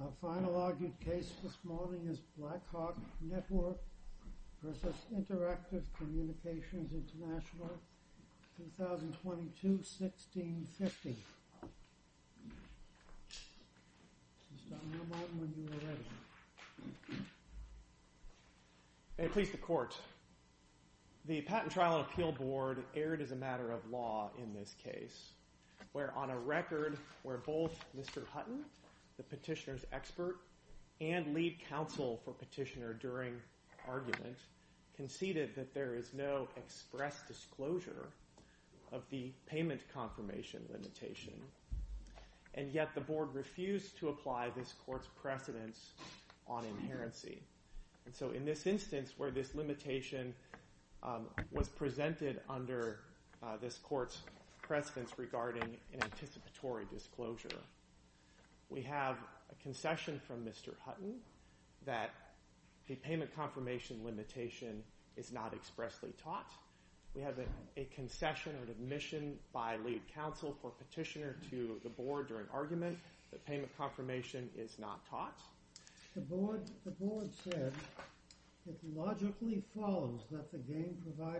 Our final argued case this morning is Blackhawk Network v. Interactive Communications International, 2022-1650. May it please the Court. The Patent Trial and Appeal Board erred as a matter of law in this expert and lead counsel for Petitioner during argument conceded that there is no express disclosure of the payment confirmation limitation, and yet the Board refused to apply this Court's precedence on inherency. And so in this instance where this limitation was presented under this concession from Mr. Hutton that the payment confirmation limitation is not expressly taught, we have a concession or admission by lead counsel for Petitioner to the Board during argument that payment confirmation is not taught. The Board said it logically follows that the Board is not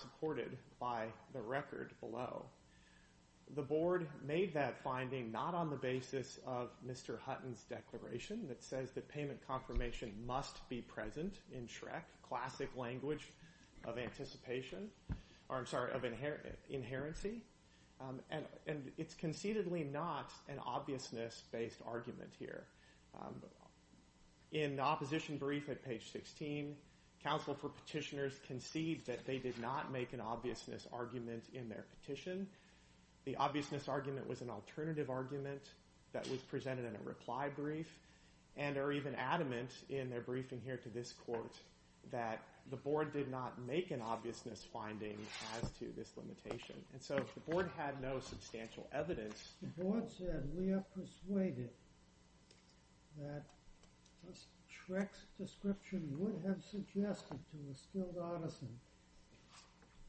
supported by the record below. The Board made that finding not on the basis of Mr. Hutton's declaration that says that payment confirmation must be present in SHREC, classic language of anticipation, or I'm sorry, of inherency, and it's concededly not an obviousness-based argument here. In the opposition brief at page 16, counsel for Petitioners conceived that they did not make an obviousness argument in their petition. The obviousness argument was an alternative argument that was presented in a reply brief and are even adamant in their briefing here to this Court that the Board did not make an obviousness finding as to this limitation. And so if the Board had no substantial evidence, the Board said we are persuaded that SHREC's description would have suggested to the skilled artisan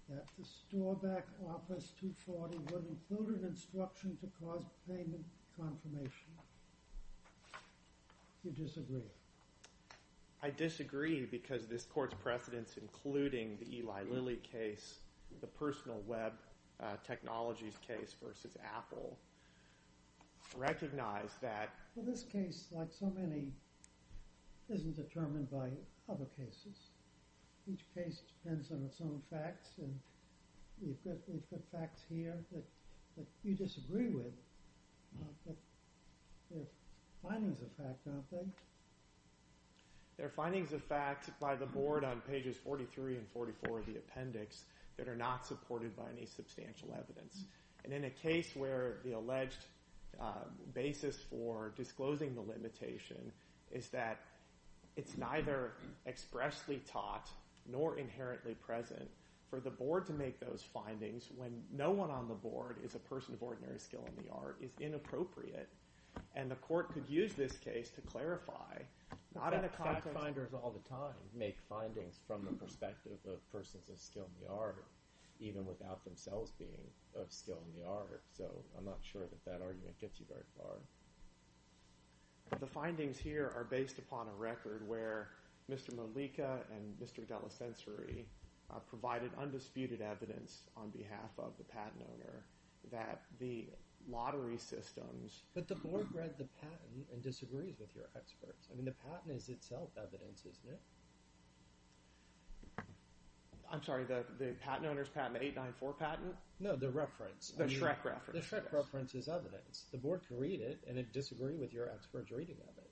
that the store-backed Office 240 would include an instruction to cause payment confirmation. Do you disagree? I disagree because this Court's precedents, including the Eli Lilly case, the personal web technologies case versus Apple, recognize that this case, like so many, isn't determined by other cases. Each case depends on its own facts, and we've got facts here that you disagree with, but they're findings of fact, aren't they? They're findings of fact by the Board on pages 43 and 44 of the appendix that are not supported by any substantial evidence. And in a case where the alleged basis for disclosing the limitation is that it's neither expressly taught nor inherently present, for the Board to make those findings when no one on the Board is a person of ordinary skill in the art is inappropriate. And the Court could use this case to clarify, not in a context... make findings from the perspective of persons of skill in the art, even without themselves being of skill in the art. So I'm not sure that that argument gets you very far. The findings here are based upon a record where Mr. Malika and Mr. D'Alesensori provided undisputed evidence on behalf of the patent owner that the lottery systems... But the Board read the patent and disagrees with your experts. I mean, the patent is itself evidence, isn't it? I'm sorry, the patent owner's patent, the 894 patent? No, the reference. The Schreck reference. The Schreck reference is evidence. The Board can read it and disagree with your expert's reading of it.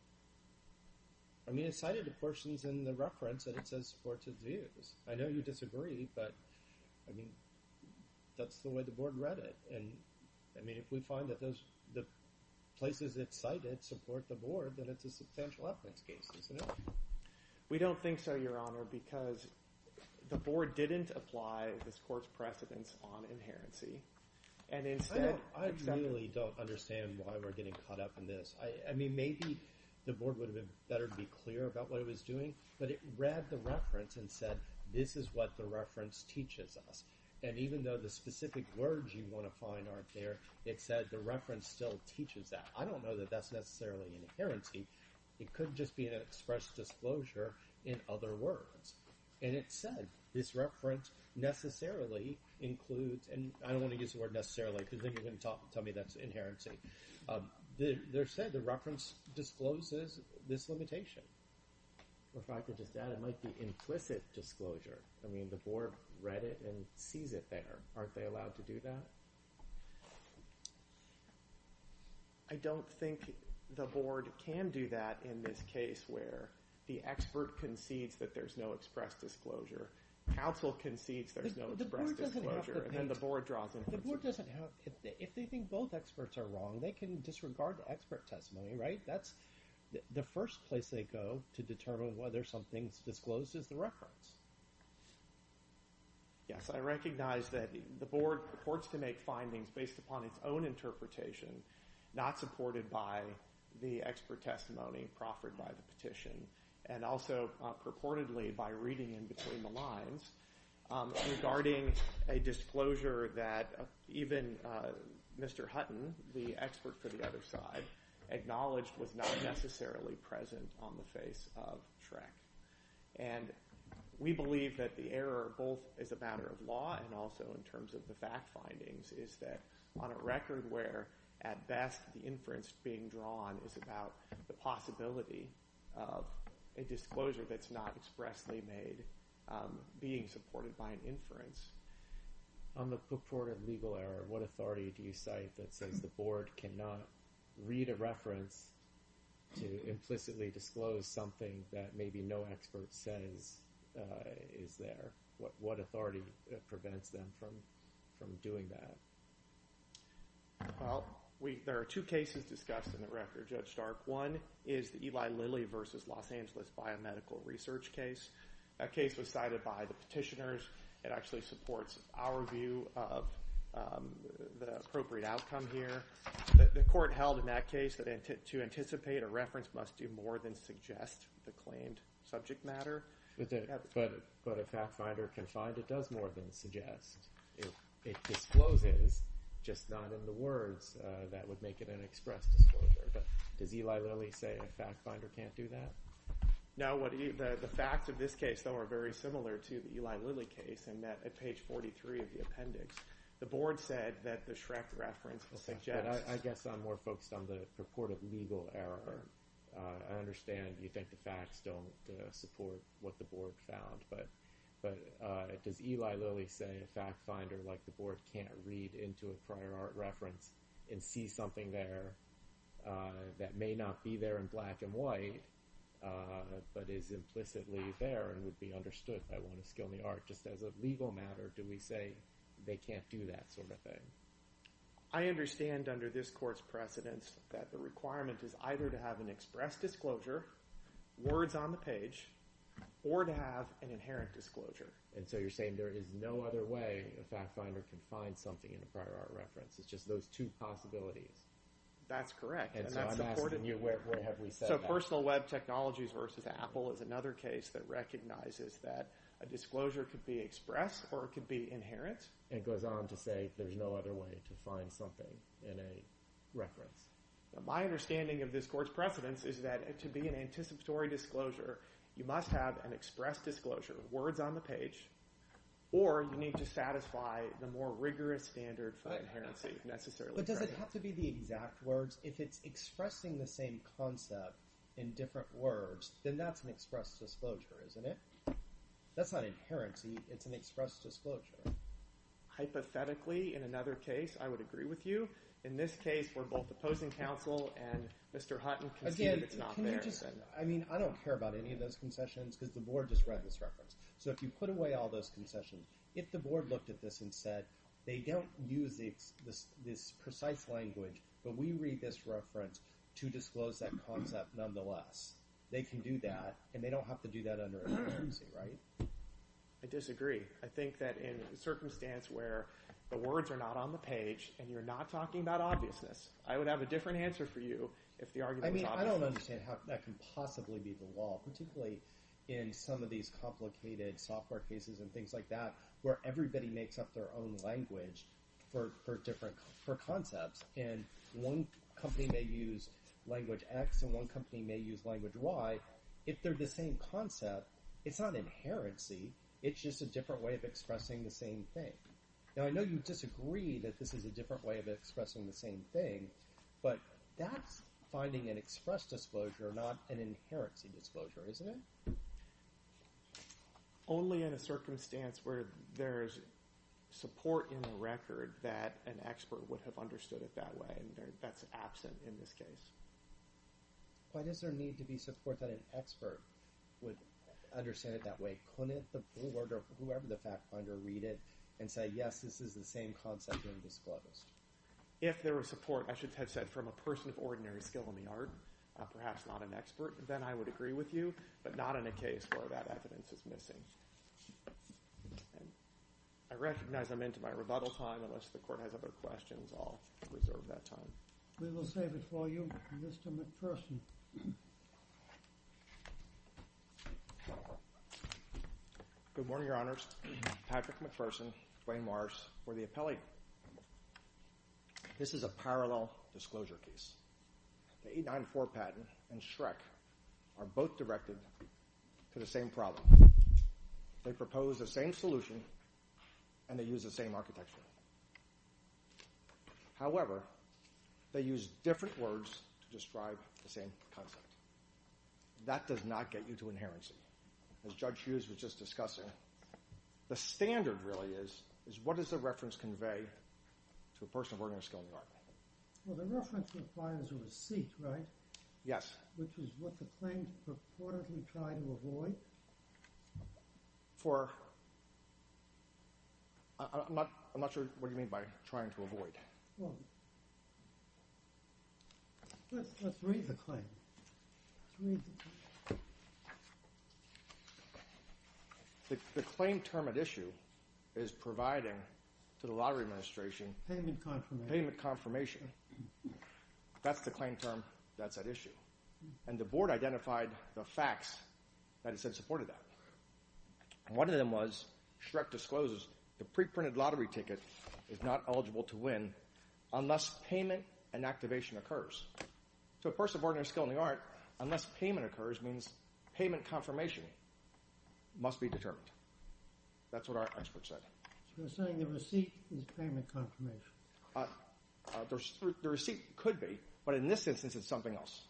I mean, it's cited in portions in the reference that it says supports its views. I know you disagree, but I mean, that's the way the Board read it. And I mean, if we find that those... the places it's cited support the Board, then it's a substantial reference case, isn't it? We don't think so, Your Honor, because the Board didn't apply this Court's precedence on inherency. And instead... I really don't understand why we're getting caught up in this. I mean, maybe the Board would have been better to be clear about what it was doing, but it read the reference and said, this is what the reference teaches us. And even though the specific words you want to find aren't there, it said the reference still teaches that. I don't know that that's necessarily an inherency. It could just be an express disclosure in other words. And it said, this reference necessarily includes... and I don't want to use the word necessarily, because then you're going to tell me that's an inherency. There said, the reference discloses this limitation. In fact, it just added, might be implicit disclosure. I mean, the Board read it and sees it there. Aren't they allowed to do that? I don't think the Board can do that in this case where the expert concedes that there's no express disclosure, counsel concedes there's no express disclosure, and then the Board draws... If they think both experts are wrong, they can disregard the expert testimony, right? That's the first place they go to determine whether something's disclosed as the reference. Yes, I recognize that the Board purports to make findings based upon its own interpretation, not supported by the expert testimony proffered by the petition, and also purportedly by reading in between the lines regarding a disclosure that even Mr. Hutton, the expert for the other side, acknowledged was not necessarily present on the face of Shrek. And we believe that the error, both as a matter of law and also in terms of the fact findings, is that on a record where, at best, the inference being drawn is about the possibility of a disclosure that's not expressly made being supported by an inference. On the purported legal error, what authority do you reference to implicitly disclose something that maybe no expert says is there? What authority prevents them from doing that? Well, there are two cases discussed in the record, Judge Stark. One is the Eli Lilly versus Los Angeles Biomedical Research case. That case was cited by the petitioners. It actually supports our view of the appropriate outcome here. The court held, in that case, that to anticipate a reference must do more than suggest the claimed subject matter. But a fact finder can find it does more than suggest. If it discloses, just not in the words, that would make it an express disclosure. But does Eli Lilly say a fact finder can't do that? No. The facts of this case, though, are very similar to the Eli Lilly case in that, at page 43 of the appendix, the board said that the Schreck reference will suggest... I guess I'm more focused on the purported legal error. I understand you think the facts don't support what the board found, but does Eli Lilly say a fact finder, like the board, can't read into a prior art reference and see something there that may not be there in black and white, but is implicitly there and would be understood by one of skill in the art? Just as a legal matter, do we say they can't do that sort of thing? I understand under this court's precedence that the requirement is either to have an express disclosure, words on the page, or to have an inherent disclosure. And so you're saying there is no other way a fact finder can find something in a prior art reference. It's just those two possibilities. That's correct. And so I'm asking you, where have we said that? So personal web technologies versus Apple is another case that recognizes that a disclosure could be expressed or it could be inherent. It goes on to say there's no other way to find something in a reference. My understanding of this court's precedence is that to be an anticipatory disclosure, you must have an express disclosure, words on the page, or you need to satisfy the more rigorous standard for inherency, necessarily. But does it have to be the exact words? If it's expressing the same concept in different words, then that's an express disclosure, isn't it? That's not inherency, it's an express disclosure. Hypothetically, in another case, I would agree with you. In this case, where both the opposing counsel and Mr. Hutton can see that it's not there. I mean, I don't care about any of those concessions because the board just read this reference. So if you put away all those concessions, if the board looked at this and said they don't use this precise language, but we read this reference to disclose that concept nonetheless, they can do that and they don't have to do that under inherency, right? I disagree. I think that in a circumstance where the words are not on the page and you're not talking about obviousness, I would have a different answer for you if the argument was obvious. I mean, I don't understand how that can possibly be the law, particularly in some of these complicated software cases and things like that, where everybody makes up their own language for concepts and one company may use language X and one company may use language Y. If they're the same concept, it's not inherency, it's just a different way of expressing the same thing. Now, I know you disagree that this is a different way of expressing the same thing, but that's finding an express disclosure, not an inherency disclosure, isn't it? Only in a circumstance where there's support in the record that an expert would have understood it that way and that's absent in this case. Why does there need to be support that an expert would understand it that way? Couldn't the board or whoever the fact finder read it and say, yes, this is the same concept being disclosed? If there was support, I should have said, from a person of ordinary skill in the art, perhaps not an expert, then I would agree with you, but not in a case where that evidence is missing. I recognize I'm into my rebuttal time. Unless the court has other questions, I'll reserve that time. We will save it for you, Mr. McPherson. Good morning, Your Honors. Patrick McPherson, Dwayne Morris for the appellee. This is a parallel disclosure case. The 894 patent and Shrek are both directed to the same problem. They propose the same solution and they use the same architecture. However, they use different words to describe the same concept. That does not get you to inherency. As Judge Hughes was just discussing, the standard really is what does the reference convey to a person of ordinary skill in the art? Well, the reference requires a receipt, right? Yes. Which is what the claim purportedly tried to avoid. I'm not sure what you mean by trying to avoid. Let's read the claim. The claim term at issue is providing to the Lottery Administration payment confirmation. That's the claim term. That's at issue. And the board identified the facts that it said supported that. One of them was Shrek discloses the pre-printed lottery ticket is not eligible to win unless payment and activation occurs. To a person of ordinary skill in the art, unless payment occurs means payment confirmation must be determined. That's what our expert said. You're saying the receipt is payment confirmation. The receipt could be, but in this instance it's something else.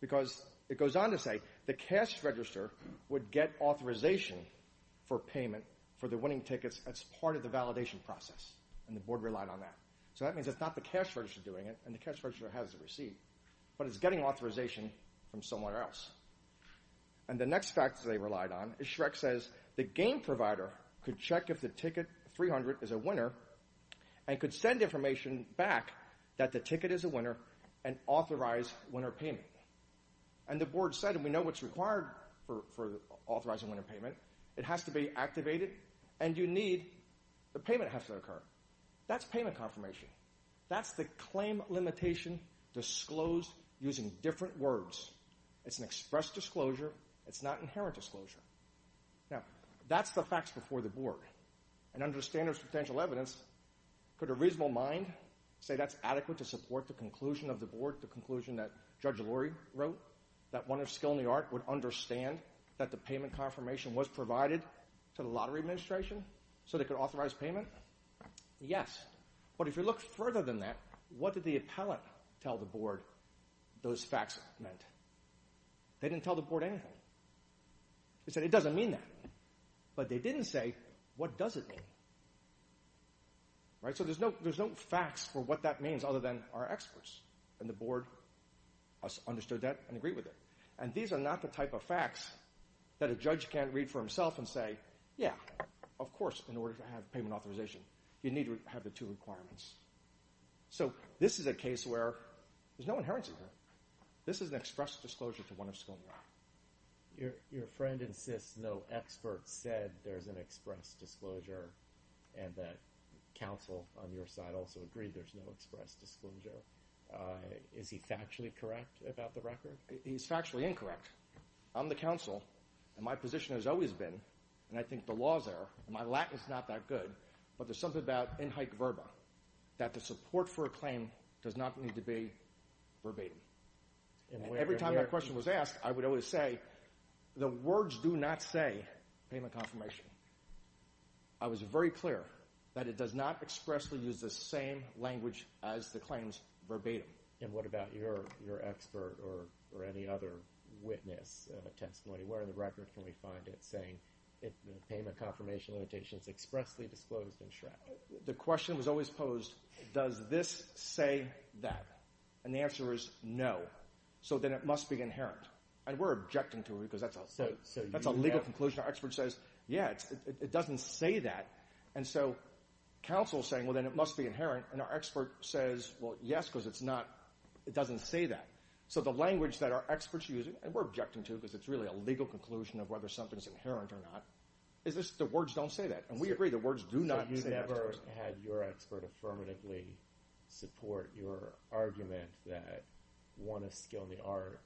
Because it goes on to say the cash register would get authorization for payment for the winning process and the board relied on that. So that means it's not the cash register doing it and the cash register has the receipt, but it's getting authorization from somewhere else. And the next fact they relied on is Shrek says the game provider could check if the ticket 300 is a winner and could send information back that the ticket is a winner and authorize winner payment. And the board said we know what's required for authorizing winner payment. It has to be activated and you need the payment has to occur. That's payment confirmation. That's the claim limitation disclosed using different words. It's an expressed disclosure. It's not inherent disclosure. Now that's the facts before the board and understanders potential evidence could a reasonable mind say that's adequate to support the conclusion of the board, the conclusion that Judge Lurie wrote, that one of skill in the art would understand that the payment confirmation was provided to the lottery administration so they could authorize payment. Yes, but if you look further than that, what did the appellate tell the board those facts meant? They didn't tell the board anything. They said it doesn't mean that, but they didn't say what does it mean. Right, so there's no there's no facts for what that means other than our experts and the board understood that and agreed with it. And these are not the type of facts that a judge can't read for himself and say yeah, of course in order to have payment authorization you need to have the two requirements. So this is a case where there's no inherency here. This is an express disclosure to one of skill in the art. Your friend insists no expert said there's an express disclosure and that counsel on your side also agreed there's no express disclosure. Is he factually correct about the record? He's factually incorrect. I'm the counsel and my position has always been, and I think the law's there, my Latin is not that good, but there's something about in hike verba that the support for a claim does not need to be verbatim. And every time that question was asked I would always say the words do not say payment confirmation. I was very clear that it does not expressly use the same language as the claims verbatim. And what about your your expert or or any other witness testimony? Where in the record can we find it saying it payment confirmation limitations expressly disclosed and shred? The question was always posed does this say that? And the answer is no. So then it must be inherent. And we're it doesn't say that. And so counsel saying, well, then it must be inherent. And our expert says, well, yes, because it's not. It doesn't say that. So the language that our experts use, and we're objecting to, because it's really a legal conclusion of whether something's inherent or not. Is this the words don't say that. And we agree the words do not. You never had your expert affirmatively support your argument that one of skill in the art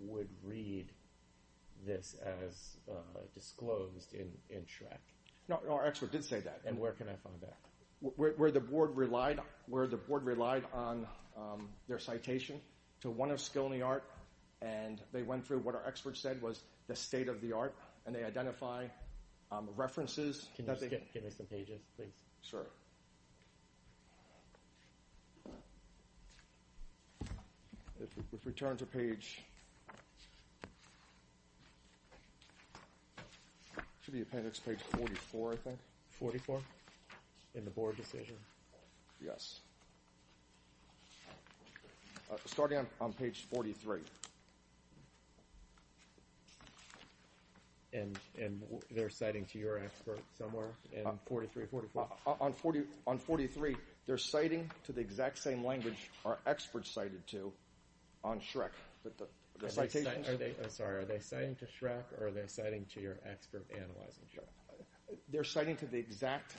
would read this as disclosed in Shrek. No, our expert did say that. And where can I find that? Where the board relied where the board relied on their citation to one of skill in the art. And they went through what our experts said was the state of the art. And they identify references. Can you give me some should be appendix page 44. I think 44 in the board decision. Yes. Starting on page 43. And, and they're citing to your expert somewhere in 43, 44 on 40 on 43. They're citing to the exact same language our experts cited to on Shrek. But the citation, are they sorry, are they citing to Shrek or are they citing to your expert analyzing? Sure. They're citing to the exact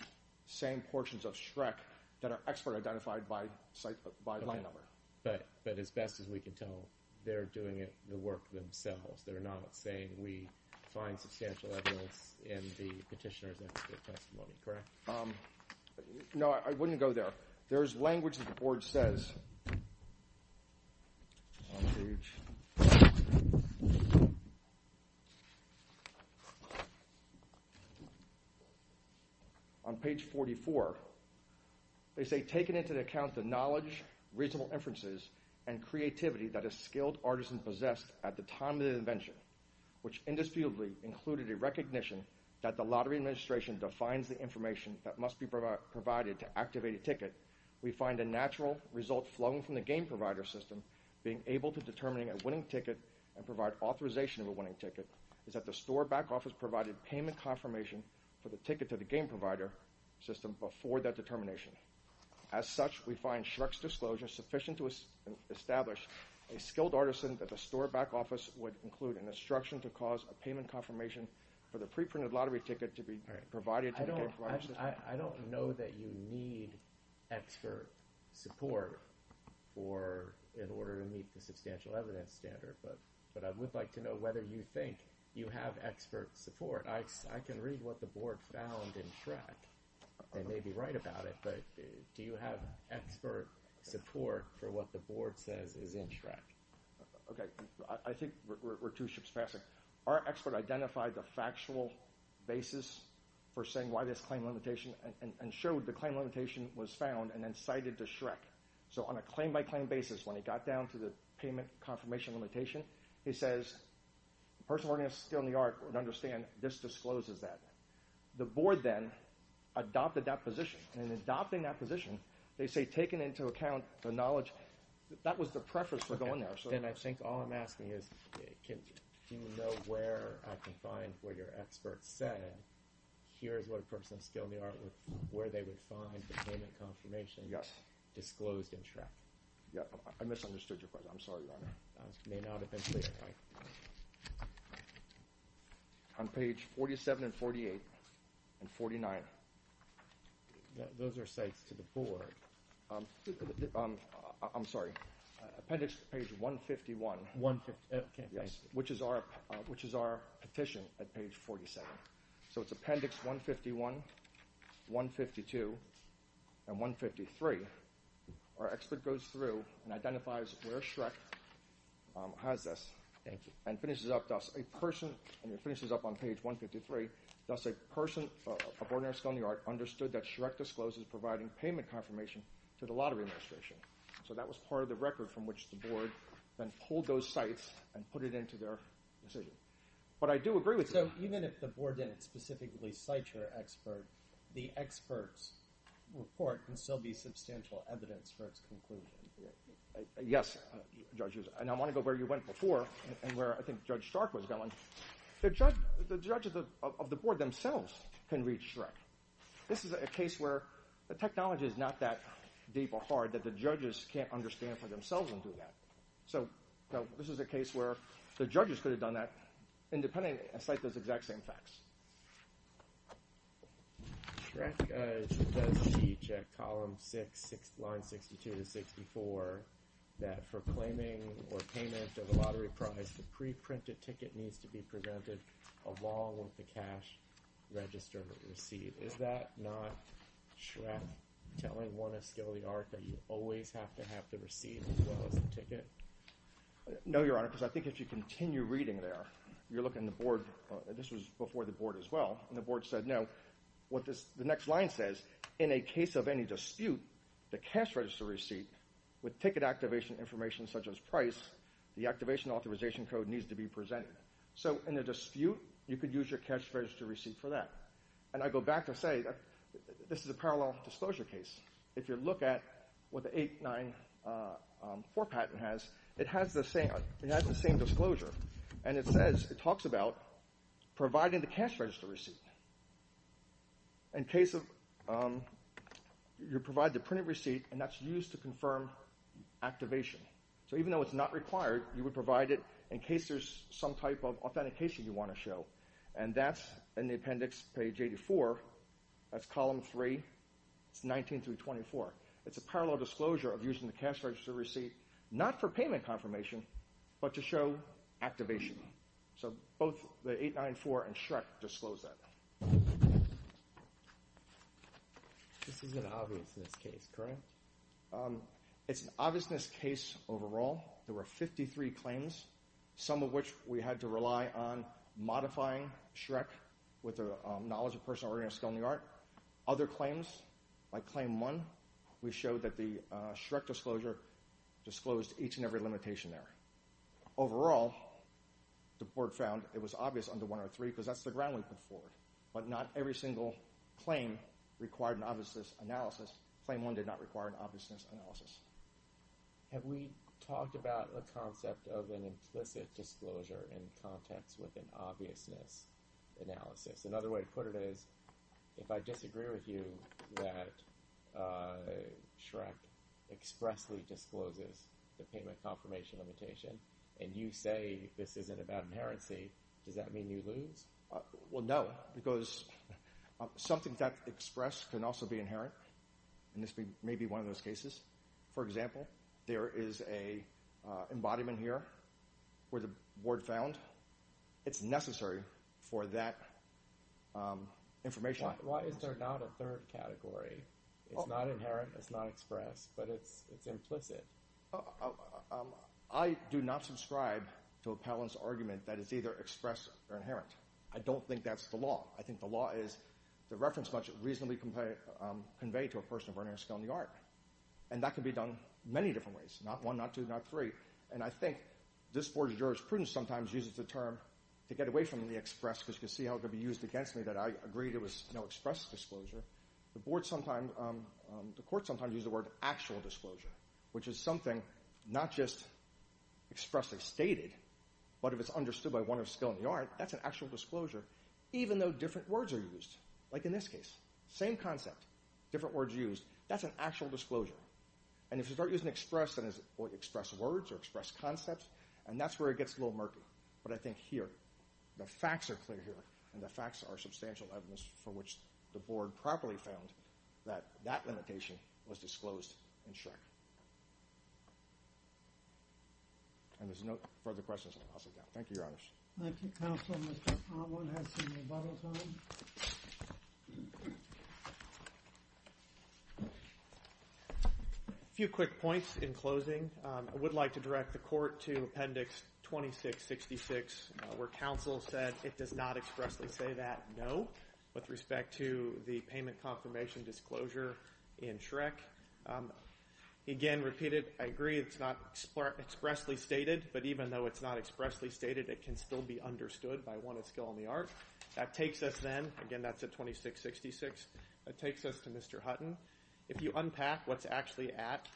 same portions of Shrek that are expert identified by site by line number. But, but as best as we can tell, they're doing it, the work themselves. They're not saying we find substantial evidence in the petitioner's testimony. Correct. No, I wouldn't go there. There's language that says on page 44, they say taken into account the knowledge, reasonable inferences and creativity that a skilled artisan possessed at the time of the invention, which indisputably included a recognition that the lottery administration defines the information that must be provided to activate a ticket. We find a natural result flung from the game provider system, being able to determining a winning ticket and provide authorization of a winning ticket is that the store back office provided payment confirmation for the ticket to the game provider system before that determination. As such, we find Shrek's disclosure sufficient to establish a skilled artisan that the store back office would include an instruction to cause a payment confirmation for the preprinted lottery ticket to be provided. I don't know that you need expert support for, in order to meet the substantial evidence standard, but, but I would like to know whether you think you have expert support. I can read what the board found in Shrek. They may be right about it, but do you have expert support for what the board says is in Shrek? Okay. I think we're the factual basis for saying why this claim limitation and showed the claim limitation was found and then cited to Shrek. So on a claim by claim basis, when he got down to the payment confirmation limitation, he says, the person working on skill in the art would understand this discloses that the board then adopted that position and adopting that position. They say taken into account the knowledge that was the preference for going there. So where your experts said, here's what a person skilled in the art where they would find the payment confirmation disclosed in Shrek. Yeah. I misunderstood your question. I'm sorry. On page 47 and 48 and 49, those are sites to the board. I'm sorry. Appendix page 151, okay. Yes. Which is our, which is our petition at page 47. So it's appendix 151, 152 and 153. Our expert goes through and identifies where Shrek has this and finishes up a person and it finishes up on page 153. That's a person of ordinary skill in the art understood that Shrek discloses providing payment confirmation to the lottery administration. So that was part of the and put it into their decision. But I do agree with you. So even if the board didn't specifically cite your expert, the experts report can still be substantial evidence for its conclusion. Yes, judges. And I want to go where you went before and where I think judge Stark was going. The judge, the judges of the board themselves can reach Shrek. This is a case where the technology is not that deep or hard that the judges can't understand for themselves and do that. So this is a case where the judges could have done that independently and cite those exact same facts. Shrek does teach at column six, line 62 to 64 that for claiming or payment of a lottery prize, the pre-printed ticket needs to be presented along with the cash register receipt. Is that not telling one a skill of the art that you always have to have the receipt as well as the ticket? No, your honor, because I think if you continue reading there, you're looking at the board. This was before the board as well. And the board said, no, what this, the next line says, in a case of any dispute, the cash register receipt with ticket activation information, such as price, the activation authorization code needs to be presented. So in the dispute, you could use your cash register receipt for that. And I go back to say, this is a parallel disclosure case. If you look at what the 894 patent has, it has the same, it has the same disclosure. And it says, it talks about providing the cash register receipt. In case of, you provide the printed receipt and that's used to confirm activation. So even though it's not required, you would provide it in case there's some type of authentication you want to show. And that's in the appendix page 84, that's column three, it's 19 through 24. It's a parallel disclosure of using the cash register receipt, not for payment confirmation, but to show activation. So both the 894 and Shrek disclose that. This is an obviousness case, correct? It's an obviousness case overall. There were 53 claims, some of which we had to rely on modifying Shrek with a knowledge of personal oriented skill in the art. Other claims, like claim one, we showed that the Shrek disclosure disclosed each and every limitation there. Overall, the board found it was obvious under 103, because that's the ground we put forward. But not every single claim required an obviousness analysis. Claim one did not require an obviousness analysis. Have we talked about the concept of an implicit disclosure in context with an obviousness analysis? Another way to put it is, if I disagree with you that Shrek expressly discloses the payment confirmation limitation, and you say this isn't about inherency, does that mean you lose? Well, no, because something that's expressed can also be inherent, and this may be one of those it's necessary for that information. Why is there not a third category? It's not inherent, it's not expressed, but it's implicit. I do not subscribe to a Palin's argument that it's either expressed or inherent. I don't think that's the law. I think the law is the reference must reasonably convey to a person of oriented skill in the art. And that can be done many different ways, not one, not two, not three. And I think this board of jurors sometimes uses the term to get away from the express, because you can see how it could be used against me that I agreed it was no express disclosure. The board sometimes, the court sometimes use the word actual disclosure, which is something not just expressly stated, but if it's understood by one of skill in the art, that's an actual disclosure, even though different words are used. Like in this case, same concept, different words used, that's an actual disclosure. And if you start using express words or express concepts, and that's where it gets a little murky. But I think here, the facts are clear here, and the facts are substantial evidence for which the board properly found that that limitation was disclosed in Shrek. And there's no further questions. Thank you, Your Honors. Thank you, Counselor. Mr. Ottwood has some rebuttals on it. A few quick points in closing. I would like to direct the court to Appendix 2666, where counsel said it does not expressly say that, no, with respect to the payment confirmation disclosure in Shrek. Again, repeated, I agree it's not expressly stated, but even though it's expressly stated, it can still be understood by one of skill in the art. That takes us then, again, that's at 2666, that takes us to Mr. Hutton. If you unpack what's actually at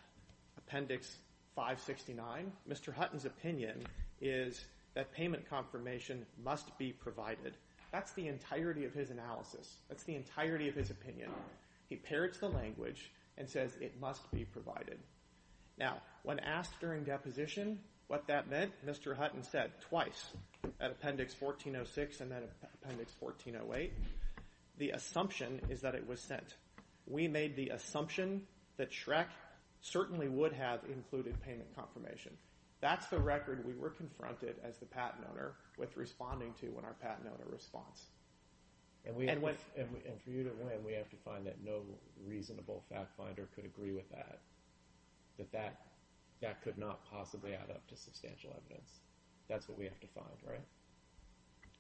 Appendix 569, Mr. Hutton's opinion is that payment confirmation must be provided. That's the entirety of his analysis. That's the entirety of his opinion. He parrots the language and says it must be provided. Now, when asked during deposition what that meant, Mr. Hutton said, twice, at Appendix 1406 and then Appendix 1408, the assumption is that it was sent. We made the assumption that Shrek certainly would have included payment confirmation. That's the record we were confronted as the patent owner with responding to when our patent owner responded. And for you to win, we have to find that no reasonable fact finder could agree with that, that that could not possibly add up to substantial evidence. That's what we have to find, right?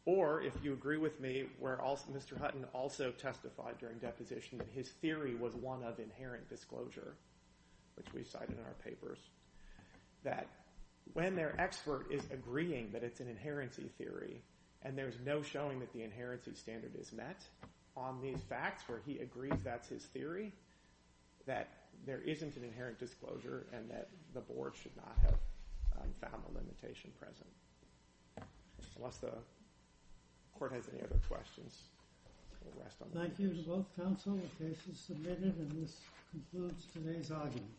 Or, if you agree with me, where Mr. Hutton also testified during deposition that his theory was one of inherent disclosure, which we cite in our papers, that when their expert is agreeing that it's an inherency theory and there's no showing that the inherency standard is met on these facts where he agrees that's his theory, that there isn't an inherent disclosure and that the board should not have found the limitation present. Unless the court has any other questions. Thank you to both counsel. The case is submitted and this concludes today's argument.